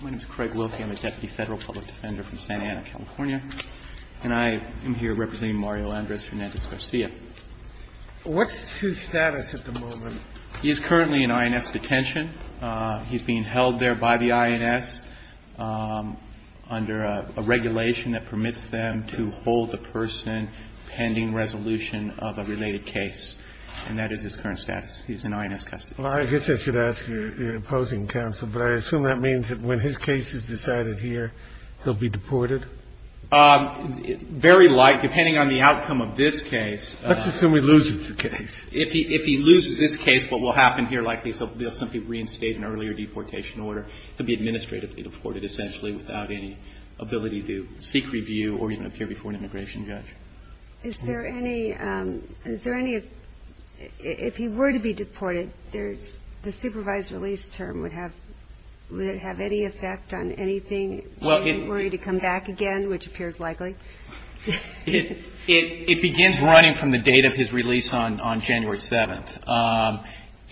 My name is Craig Wilkie. I'm a Deputy Federal Public Defender from Santa Ana, California. And I am here representing Mario Andres Hernandez-Garcia. What's his status at the moment? He is currently in INS detention. He's being held there by the INS under a regulation that permits them to hold the person pending resolution of a related case. And that is his current status. He's in INS custody. Well, I guess I should ask your opposing counsel, but I assume that means that when his case is decided here, he'll be deported? Very likely, depending on the outcome of this case. Let's assume he loses the case. If he loses this case, what will happen here likely is he'll simply reinstate an earlier deportation order. He'll be administratively deported, essentially, without any ability to seek review or even appear before an immigration judge. Is there any, if he were to be deported, the supervised release term, would it have any effect on anything? Would he need to come back again, which appears likely? It begins running from the date of his release on January 7th.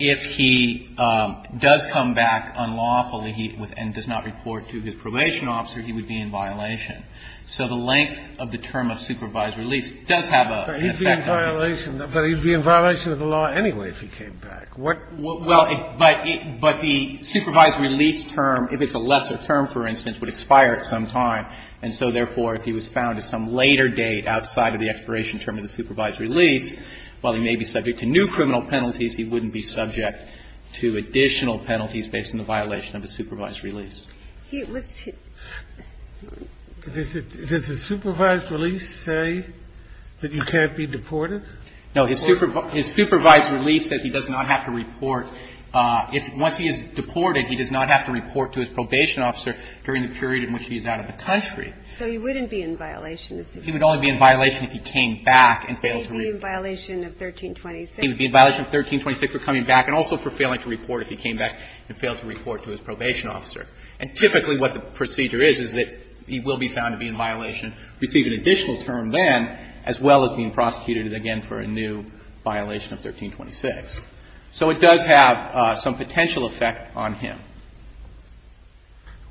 If he does come back unlawfully and does not report to his probation officer, he would be in violation. So the length of the term of supervised release does have an effect on him. But he'd be in violation of the law anyway if he came back. Well, but the supervised release term, if it's a lesser term, for instance, would expire at some time. And so, therefore, if he was found at some later date outside of the expiration term of the supervised release, while he may be subject to new criminal penalties, he wouldn't be subject to additional penalties based on the violation of the supervised release. Does the supervised release say that he can't be deported? No. His supervised release says he does not have to report. Once he is deported, he does not have to report to his probation officer during the period in which he is out of the country. So he wouldn't be in violation if he came back. He would only be in violation if he came back and failed to report. He would be in violation of 1326. He would be in violation of 1326 for coming back and also for failing to report if he came back and failed to report to his probation officer. And typically what the procedure is, is that he will be found to be in violation, receive an additional term then, as well as being prosecuted again for a new violation of 1326. So it does have some potential effect on him.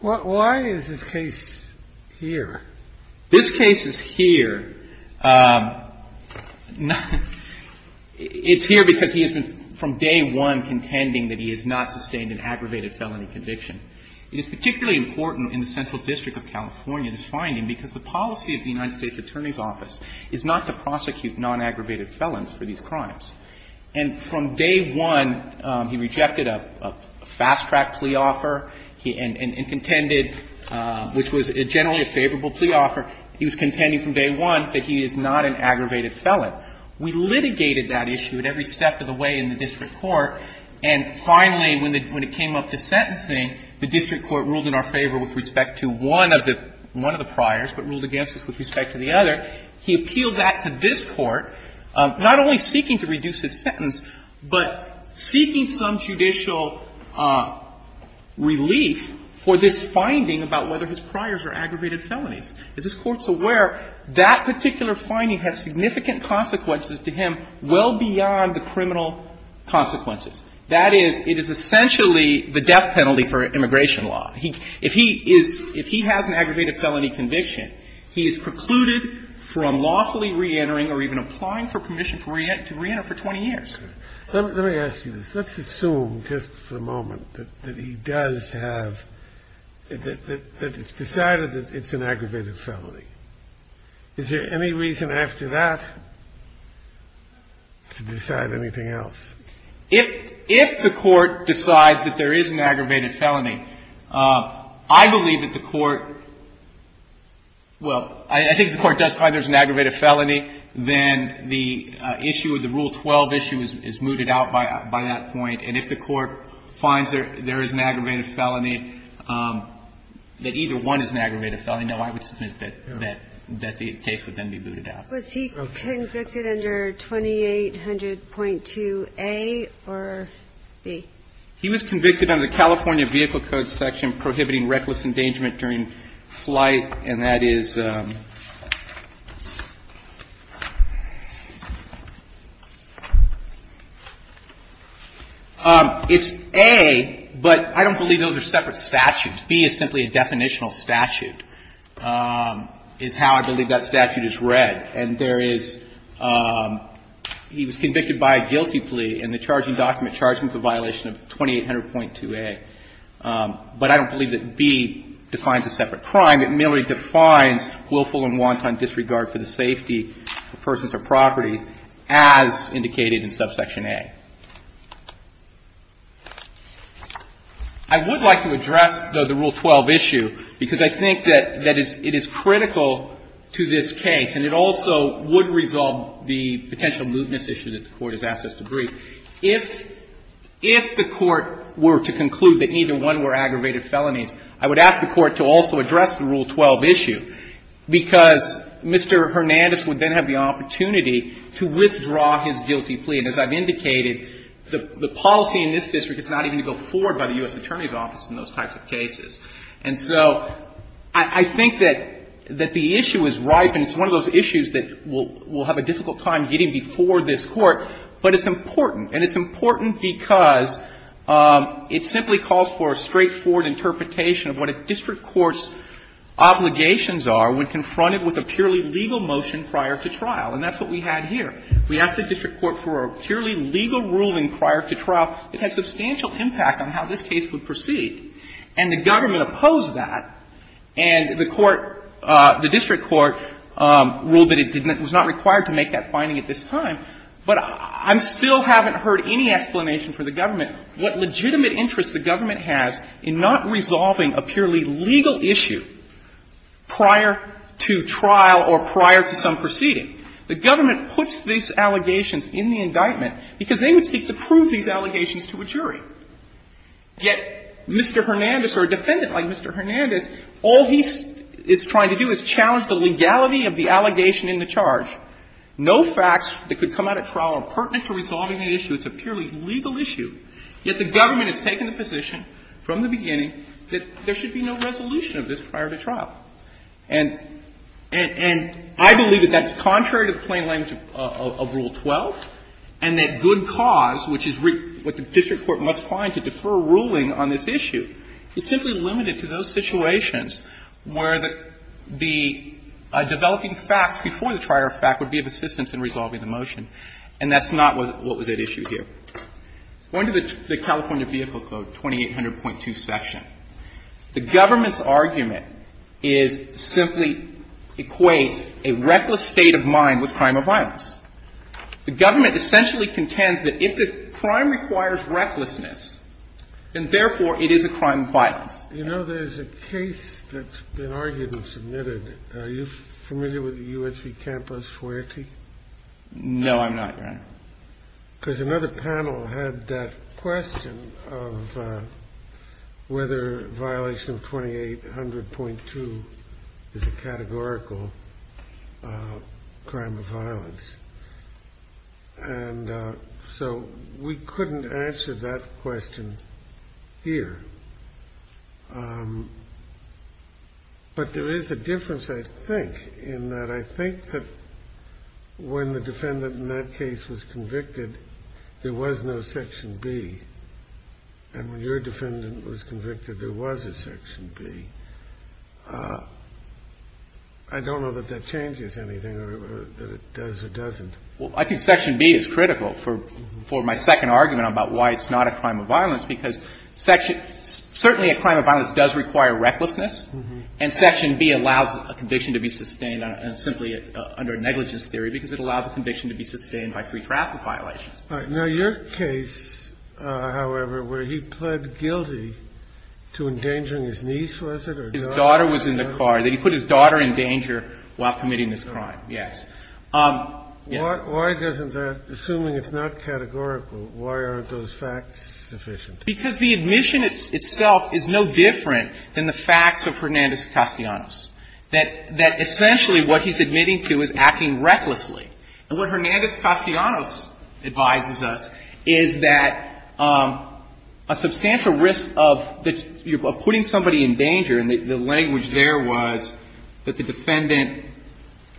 Why is this case here? This case is here. It's here because he has been from day one contending that he has not sustained an aggravated felony conviction. It is particularly important in the Central District of California, this finding, because the policy of the United States Attorney's Office is not to prosecute non-aggravated felons for these crimes. And from day one, he rejected a fast-track plea offer and contended, which was generally a favorable plea offer. He was contending from day one that he is not an aggravated felon. We litigated that issue at every step of the way in the district court. And finally, when it came up to sentencing, the district court ruled in our favor with respect to one of the priors, but ruled against us with respect to the other. He appealed that to this Court, not only seeking to reduce his sentence, but seeking some judicial relief for this finding about whether his priors are aggravated felonies. As this Court's aware, that particular finding has significant consequences to him well beyond the criminal consequences. That is, it is essentially the death penalty for immigration law. If he has an aggravated felony conviction, he is precluded from lawfully reentering or even applying for permission to reenter for 20 years. Let me ask you this. Let's assume just for a moment that he does have, that it's decided that it's an aggravated felony. Is there any reason after that to decide anything else? If the Court decides that there is an aggravated felony, I believe that the Court – well, I think the Court does find there's an aggravated felony. Then the issue of the Rule 12 issue is mooted out by that point. And if the Court finds there is an aggravated felony, that either one is an aggravated felony, no, I would submit that the case would then be mooted out. Ginsburg. Was he convicted under 2800.2A or B? He was convicted under the California Vehicle Code section prohibiting reckless endangerment during flight, and that is – it's A, but I don't believe those are separate statutes. B is simply a definitional statute, is how I believe that statute is read. And there is – he was convicted by a guilty plea, and the charging document charges him with a violation of 2800.2A. But I don't believe that B defines a separate crime. It merely defines willful and wanton disregard for the safety of persons or property as indicated in subsection A. I would like to address, though, the Rule 12 issue, because I think that it is critical to this case, and it also would resolve the potential mootness issue that the Court has asked us to brief. If the Court were to conclude that neither one were aggravated felonies, I would ask the Court to also address the Rule 12 issue, because Mr. Hernandez would then have the opportunity to withdraw his guilty plea. And as I've indicated, the policy in this district is not even to go forward by the U.S. Attorney's Office in those types of cases. And so I think that the issue is ripe, and it's one of those issues that we'll have a difficult time getting before this Court. But it's important. And it's important because it simply calls for a straightforward interpretation of what a district court's obligations are when confronted with a purely legal motion prior to trial. And that's what we had here. We asked the district court for a purely legal ruling prior to trial that had substantial impact on how this case would proceed. And the government opposed that. And the court, the district court, ruled that it was not required to make that finding at this time. But I still haven't heard any explanation for the government what legitimate interest the government has in not resolving a purely legal issue prior to trial or prior to some proceeding. The government puts these allegations in the indictment because they would seek to prove these allegations to a jury. Yet Mr. Hernandez or a defendant like Mr. Hernandez, all he is trying to do is challenge the legality of the allegation in the charge. No facts that could come out at trial are pertinent to resolving the issue. It's a purely legal issue. Yet the government has taken the position from the beginning that there should be no resolution of this prior to trial. And I believe that that's contrary to the plain language of Rule 12 and that good cause, which is what the district court must find to defer ruling on this issue, is simply limited to those situations where the developing facts before the trial or fact would be of assistance in resolving the motion. And that's not what was at issue here. Go into the California Vehicle Code 2800.2 section. The government's argument is, simply equates a reckless state of mind with crime of violence. The government essentially contends that if the crime requires recklessness, then therefore it is a crime of violence. You know, there's a case that's been argued and submitted. Are you familiar with the U.S.C. Campus loyalty? No, I'm not, Your Honor. Because another panel had that question of whether violation of 2800.2 is a categorical crime of violence. And so we couldn't answer that question here. But there is a difference, I think, in that I think that when the defendant in that case was convicted, there was no section B. And when your defendant was convicted, there was a section B. I don't know that that changes anything or that it does or doesn't. Well, I think section B is critical for my second argument about why it's not a crime of violence, because certainly a crime of violence does require recklessness. And section B allows a conviction to be sustained simply under a negligence theory because it allows a conviction to be sustained by free traffic violations. All right. Now, your case, however, where he pled guilty to endangering his niece, was it, or daughter? His daughter was in the car. He put his daughter in danger while committing this crime, yes. Why doesn't that, assuming it's not categorical, why aren't those facts sufficient? Because the admission itself is no different than the facts of Hernandez-Castellanos, that essentially what he's admitting to is acting recklessly. And what Hernandez-Castellanos advises us is that a substantial risk of putting somebody in danger, and the language there was that the defendant –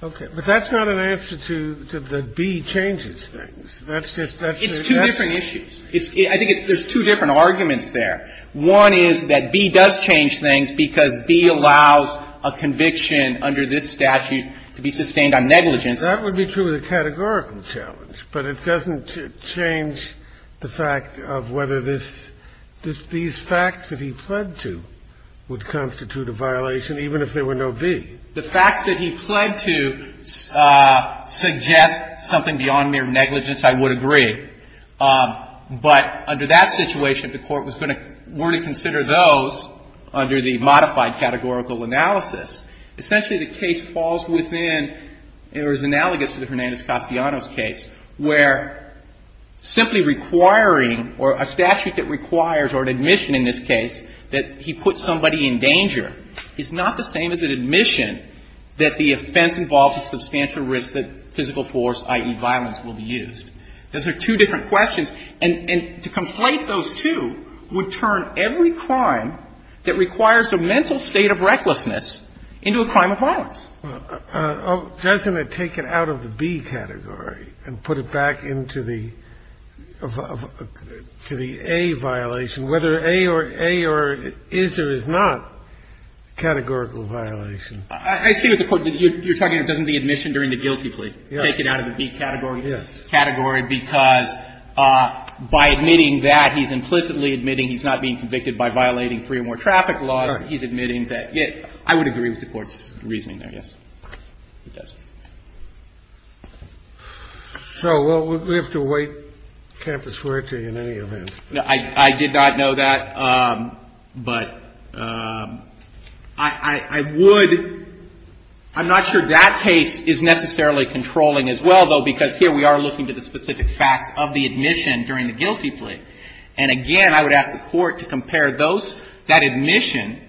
Okay. But that's not an answer to the B changes things. That's just – It's two different issues. I think there's two different arguments there. One is that B does change things because B allows a conviction under this statute to be sustained on negligence. That would be true of the categorical challenge. But it doesn't change the fact of whether these facts that he pled to would constitute a violation, even if there were no B. The facts that he pled to suggest something beyond mere negligence, I would agree. But under that situation, if the Court were to consider those under the modified categorical analysis, essentially the case falls within or is analogous to the Hernandez-Castellanos case, where simply requiring or a statute that requires or an admission in this case that he put somebody in danger is not the same as an admission that the offense involves a substantial risk that physical force, i.e., violence, will be used. Those are two different questions. And to conflate those two would turn every crime that requires a mental state of recklessness into a crime of violence. Doesn't it take it out of the B category and put it back into the A violation, whether A or A or is or is not categorical violation? I see what the Court did. You're talking, doesn't the admission during the guilty plea take it out of the B category because by admitting that, he's implicitly admitting he's not being convicted by violating three or more traffic laws. He's admitting that. I would agree with the Court's reasoning there, yes. It does. So we have to wait campus where to in any event. I did not know that. But I would — I'm not sure that case is necessarily controlling as well, though, because here we are looking to the specific facts of the admission during the guilty plea. And again, I would ask the Court to compare those — that admission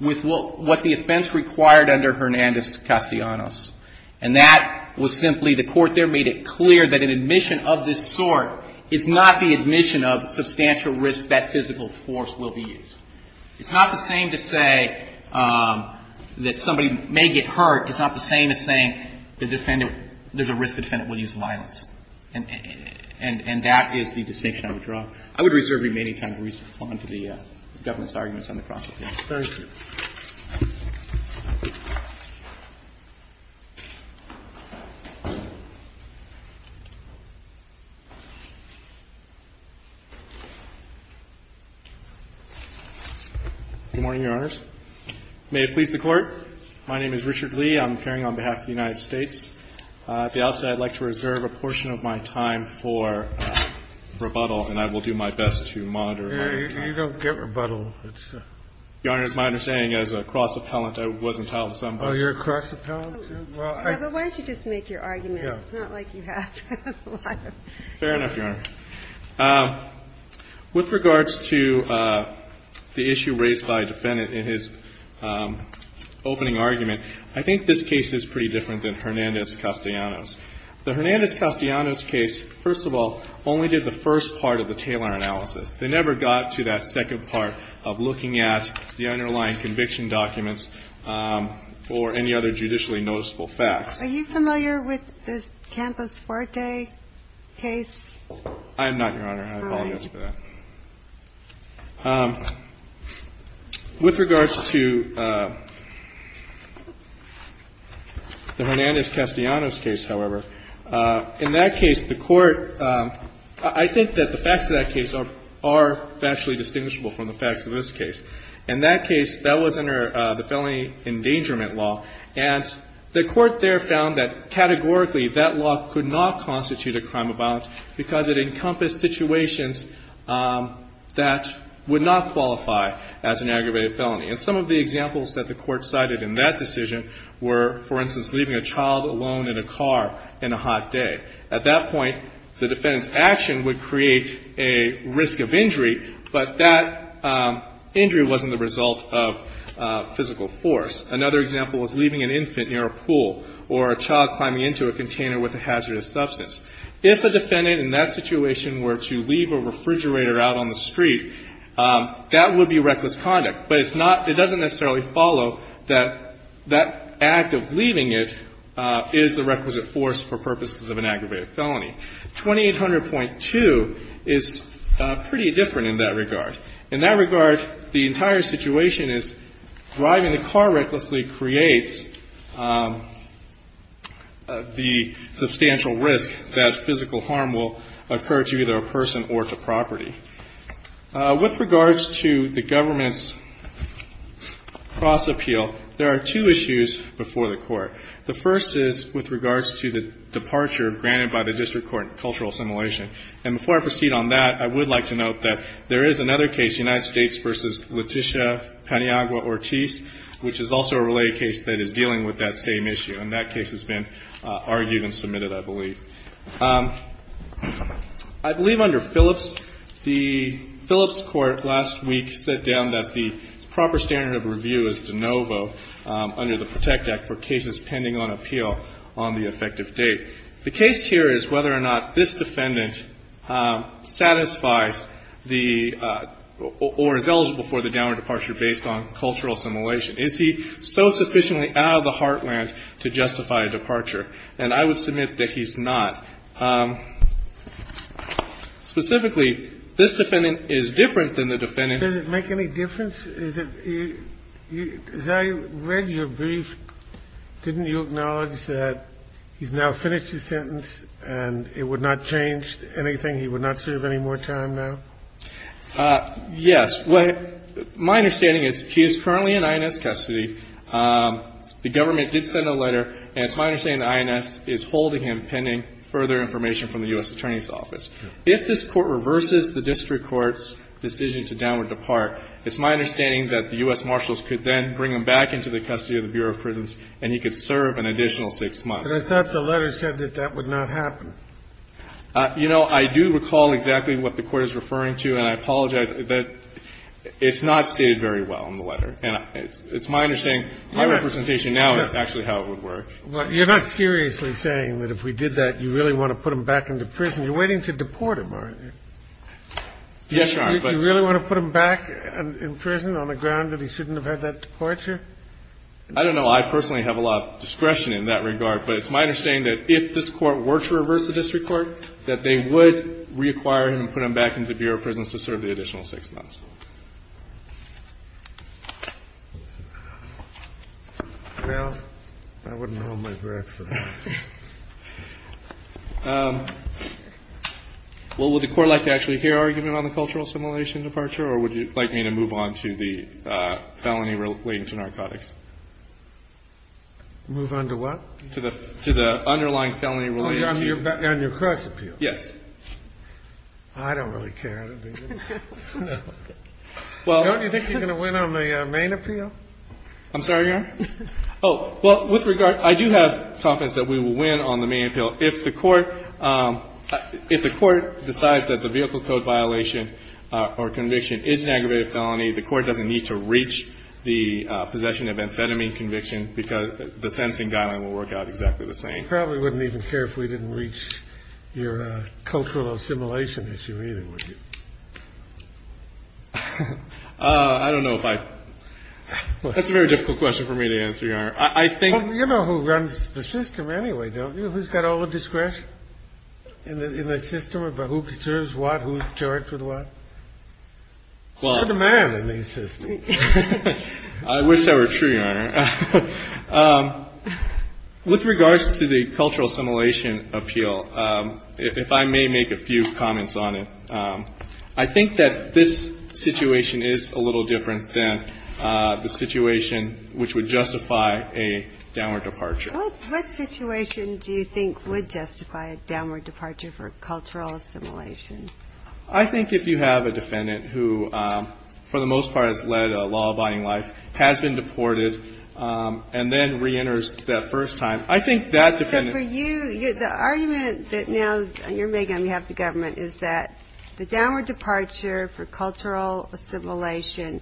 with what the offense required under Hernandez-Castellanos. And that was simply — the Court there made it clear that an admission of this sort is not the admission of substantial risk that physical force will be used. It's not the same to say that somebody may get hurt. It's not the same as saying the defendant — there's a risk the defendant will use violence. And that is the distinction I would draw. I would reserve remaining time to respond to the government's arguments on the cross-appeal. Thank you. Good morning, Your Honors. May it please the Court. My name is Richard Lee. I'm appearing on behalf of the United States. At the outset, I'd like to reserve a portion of my time for rebuttal, and I will do my best to monitor. You don't get rebuttal. Your Honors, my understanding as a cross-appellant, I wasn't held to some. Oh, you're a cross-appellant? Well, I — Yeah, but why don't you just make your arguments? It's not like you have a lot of — Fair enough, Your Honor. With regards to the issue raised by a defendant in his opening argument, I think this case is pretty different than Hernandez-Castellano's. The Hernandez-Castellano's case, first of all, only did the first part of the Taylor analysis. They never got to that second part of looking at the underlying conviction documents or any other judicially noticeable facts. Are you familiar with the Campos-Forte case? I am not, Your Honor, and I apologize for that. All right. With regards to the Hernandez-Castellano's case, however, in that case, the Court — I think that the facts of that case are factually distinguishable from the facts of this case. In that case, that was under the felony endangerment law. And the Court there found that, categorically, that law could not constitute a crime of violence because it encompassed situations that would not qualify as an aggravated felony. And some of the examples that the Court cited in that decision were, for instance, leaving a child alone in a car in a hot day. At that point, the defendant's action would create a risk of injury, but that injury wasn't the result of physical force. Another example was leaving an infant near a pool or a child climbing into a container with a hazardous substance. If a defendant in that situation were to leave a refrigerator out on the street, that would be reckless conduct. But it's not — it doesn't necessarily follow that that act of leaving it is the requisite force for purposes of an aggravated felony. 2800.2 is pretty different in that regard. In that regard, the entire situation is driving a car recklessly creates the substantial risk that physical harm will occur to either a person or to property. With regards to the government's cross-appeal, there are two issues before the Court. The first is with regards to the departure granted by the district court in cultural assimilation. And before I proceed on that, I would like to note that there is another case, United States v. Leticia Paniagua-Ortiz, which is also a related case that is dealing with that same issue. And that case has been argued and submitted, I believe. I believe under Phillips, the Phillips Court last week set down that the proper standard of review is de novo under the PROTECT Act for cases pending on appeal on the effective date. The case here is whether or not this defendant satisfies the — or is eligible for the downward departure based on cultural assimilation. Is he so sufficiently out of the heartland to justify a departure? And I would submit that he's not. Specifically, this defendant is different than the defendant — And it would not change anything? He would not serve any more time now? Yes. My understanding is he is currently in INS custody. The government did send a letter. And it's my understanding the INS is holding him pending further information from the U.S. Attorney's Office. If this Court reverses the district court's decision to downward depart, it's my understanding that the U.S. Marshals could then bring him back into the custody of the Bureau of Prisons, and he could serve an additional six months. But I thought the letter said that that would not happen. You know, I do recall exactly what the Court is referring to, and I apologize, but it's not stated very well in the letter. And it's my understanding my representation now is actually how it would work. You're not seriously saying that if we did that, you really want to put him back into prison? You're waiting to deport him, aren't you? Yes, Your Honor, but — Do you really want to put him back in prison on the ground that he shouldn't have had that departure? I don't know. Well, I personally have a lot of discretion in that regard, but it's my understanding that if this Court were to reverse the district court, that they would reacquire him and put him back into the Bureau of Prisons to serve the additional six months. Well, I wouldn't hold my breath for that. Well, would the Court like to actually hear argument on the cultural assimilation departure, or would you like me to move on to the felony relating to narcotics? Move on to what? To the underlying felony relating to — Oh, on your cross appeal? Yes. I don't really care. Don't you think you're going to win on the main appeal? I'm sorry, Your Honor? Oh, well, with regard — I do have confidence that we will win on the main appeal If the Court decides that the vehicle code violation or conviction is an aggravated felony, the Court doesn't need to reach the possession of amphetamine conviction because the sentencing guideline will work out exactly the same. You probably wouldn't even care if we didn't reach your cultural assimilation issue either, would you? I don't know if I — that's a very difficult question for me to answer, Your Honor. I think — Well, it's a system anyway, don't you? Who's got all the discretion in the system? Who preserves what? Who's charged with what? You're the man in these systems. I wish that were true, Your Honor. With regards to the cultural assimilation appeal, if I may make a few comments on it, I think that this situation is a little different than the situation which would justify a downward departure. What situation do you think would justify a downward departure for cultural assimilation? I think if you have a defendant who, for the most part, has led a law-abiding life, has been deported, and then reenters that first time, I think that defendant — But for you, the argument that now you're making on behalf of the government is that the downward departure for cultural assimilation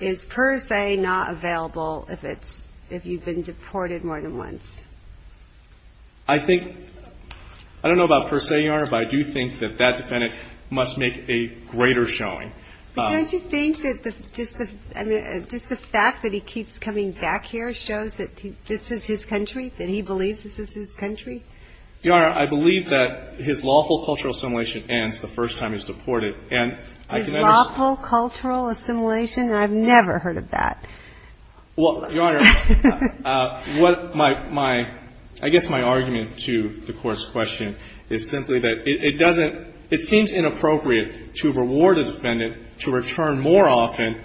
is per se not available if you've been deported more than once. I think — I don't know about per se, Your Honor, but I do think that that defendant must make a greater showing. But don't you think that just the fact that he keeps coming back here shows that this is his country, that he believes this is his country? Your Honor, I believe that his lawful cultural assimilation ends the first time he's deported. And I can understand — His lawful cultural assimilation? I've never heard of that. Well, Your Honor, what my — I guess my argument to the Court's question is simply that it doesn't — it seems inappropriate to reward a defendant to return more often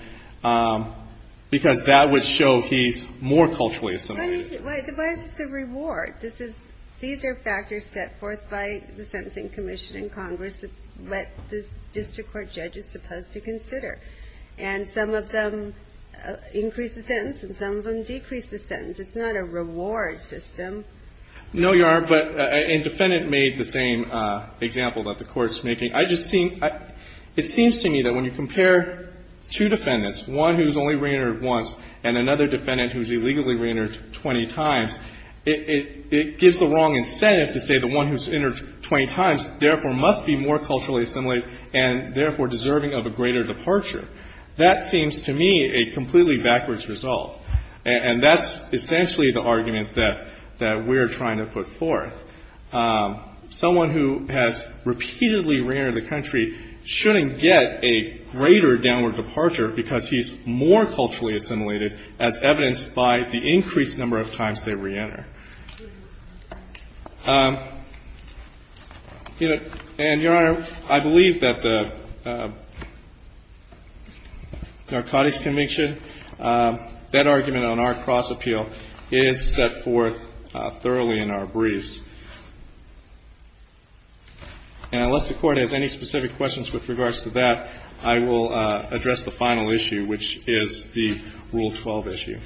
because that would show he's more culturally assimilated. Why is this a reward? This is — these are factors set forth by the Sentencing Commission in Congress of what the district court judge is supposed to consider. And some of them increase the sentence and some of them decrease the sentence. It's not a reward system. No, Your Honor, but — and defendant made the same example that the Court's making. I just see — it seems to me that when you compare two defendants, one who's only reentered once and another defendant who's illegally reentered 20 times, it gives the wrong incentive to say the one who's reentered 20 times therefore must be more culturally assimilated and therefore deserving of a greater departure. That seems to me a completely backwards result. And that's essentially the argument that — that we're trying to put forth. Someone who has repeatedly reentered the country shouldn't get a greater downward departure because he's more culturally assimilated, as evidenced by the increased number of times they reenter. And, Your Honor, I believe that the Narcotics Convention, that argument on our cross-appeal is set forth thoroughly in our briefs. And unless the Court has any specific questions with regards to that, I will address the final issue, which is the Rule 12 issue.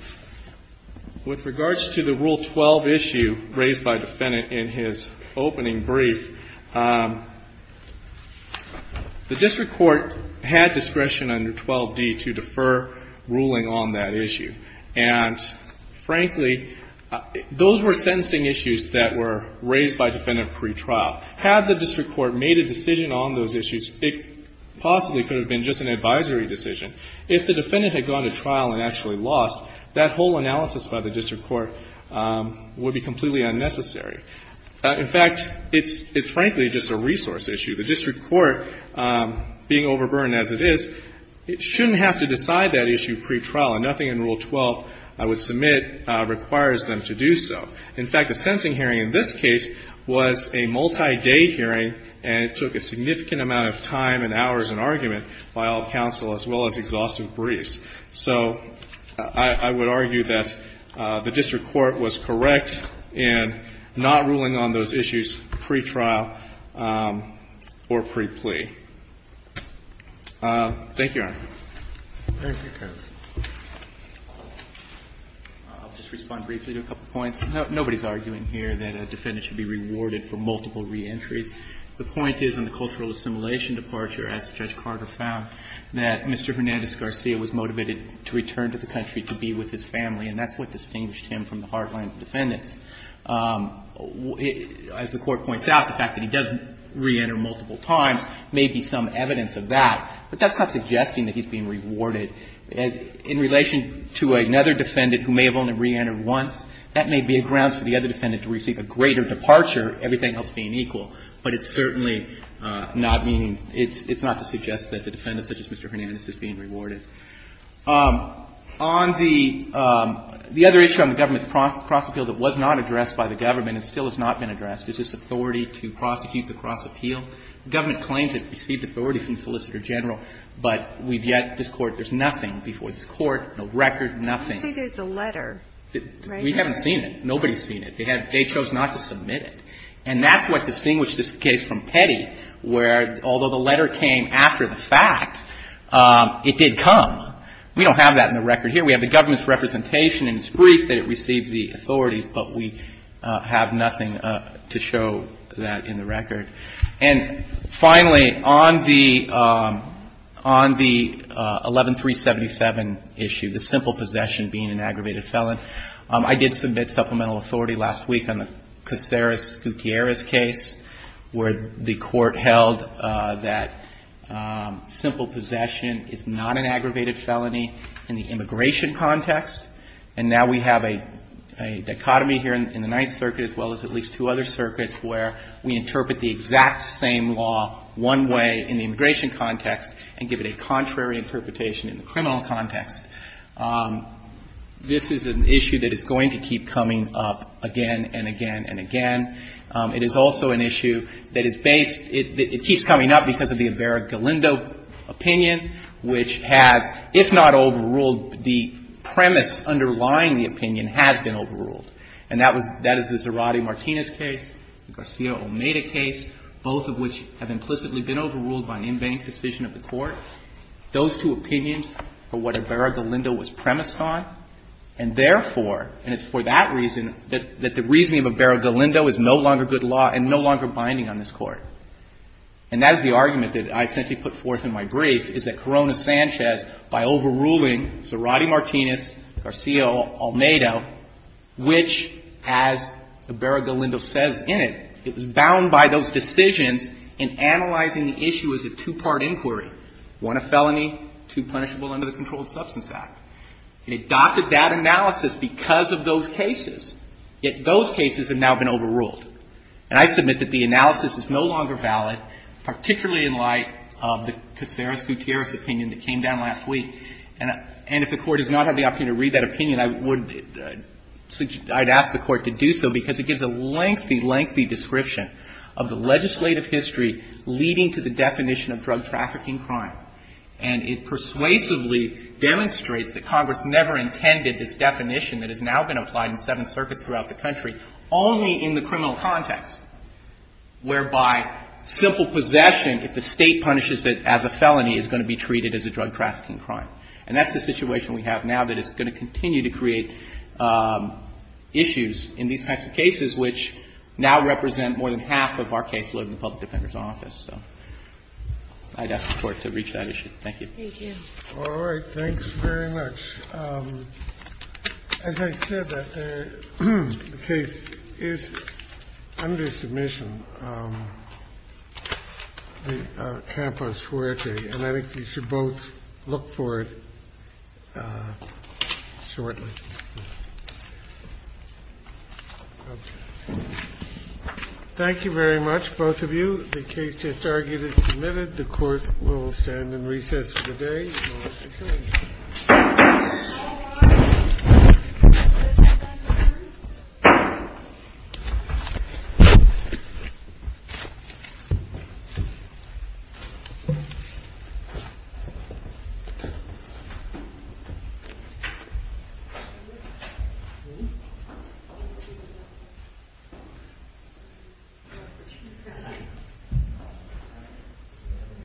With regards to the Rule 12 issue raised by defendant in his opening brief, the district court had discretion under 12d to defer ruling on that issue. And, frankly, those were sentencing issues that were raised by defendant pretrial. Had the district court made a decision on those issues, it possibly could have been just an advisory decision. If the defendant had gone to trial and actually lost, that whole analysis by the district court would be completely unnecessary. In fact, it's — it's, frankly, just a resource issue. The district court, being overburdened as it is, shouldn't have to decide that issue pretrial. And nothing in Rule 12 I would submit requires them to do so. In fact, the sentencing hearing in this case was a multi-day hearing, and it took a significant amount of time and hours and argument by all counsel, as well as exhaustive briefs. So I would argue that the district court was correct in not ruling on those issues pretrial or pre-plea. Thank you, Your Honor. Thank you, Counsel. I'll just respond briefly to a couple points. Nobody's arguing here that a defendant should be rewarded for multiple reentries. The point is in the cultural assimilation departure, as Judge Carter found, that Mr. Hernandez-Garcia was motivated to return to the country to be with his family, and that's what distinguished him from the hardline defendants. As the Court points out, the fact that he does reenter multiple times may be some evidence of that, but that's not suggesting that he's being rewarded. In relation to another defendant who may have only reentered once, that may be a grounds for the other defendant to receive a greater departure, everything else being equal. But it's certainly not meaning — it's not to suggest that the defendant, such as Mr. Hernandez, is being rewarded. On the — the other issue on the government's cross-appeal that was not addressed by the government and still has not been addressed is this authority to prosecute the cross-appeal. The government claims it received authority from the Solicitor General, but we've yet — this Court, there's nothing before this Court, no record, nothing. I think there's a letter. We haven't seen it. Nobody's seen it. They chose not to submit it. And that's what distinguished this case from Petty, where although the letter came after the fact, it did come. We don't have that in the record here. We have the government's representation, and it's briefed that it received the authority, but we have nothing to show that in the record. And finally, on the — on the 11-377 issue, the simple possession being an aggravated felon. I did submit supplemental authority last week on the Caceres-Gutierrez case, where the Court held that simple possession is not an aggravated felony in the immigration context. And now we have a — a dichotomy here in the Ninth Circuit as well as at least two other circuits where we interpret the exact same law one way in the immigration context and give it a contrary interpretation in the criminal context. This is an issue that is going to keep coming up again and again and again. It is also an issue that is based — it keeps coming up because of the Ibarra-Galindo opinion, which has, if not overruled, the premise underlying the opinion has been overruled. And that was — that is the Zarate-Martinez case, the Garcia-Omeda case, both of which have implicitly been overruled by an in vain decision of the Court. Those two opinions are what Ibarra-Galindo was premised on, and therefore — and it's for that reason that the reasoning of Ibarra-Galindo is no longer good law and no longer binding on this Court. And that is the argument that I essentially put forth in my brief, is that Corona-Sanchez, by overruling Zarate-Martinez, Garcia-Omeda, which, as Ibarra-Galindo says in it, it was bound by those decisions in analyzing the issue as a two-part inquiry. One a felony, two punishable under the Controlled Substance Act. It adopted that analysis because of those cases, yet those cases have now been overruled. And I submit that the analysis is no longer valid, particularly in light of the Caceres-Gutierrez opinion that came down last week. And if the Court does not have the opportunity to read that opinion, I would — I'd ask the Court to do so because it gives a lengthy, lengthy description of the legislative history leading to the definition of drug trafficking crime. And it persuasively demonstrates that Congress never intended this definition that has now been applied in seven circuits throughout the country, only in the criminal context, whereby simple possession, if the State punishes it as a felony, is going to be treated as a drug trafficking crime. And that's the situation we have now that is going to continue to create issues in these types of cases which now represent more than half of our caseload in the Public Defender's Office. So I'd ask the Court to reach that issue. Thank you. Thank you. All right. Thanks very much. As I said, the case is under submission. The campus where it is. And I think you should both look for it shortly. Thank you very much, both of you. The case just argued is submitted. The Court will stand in recess for the day. Thank you.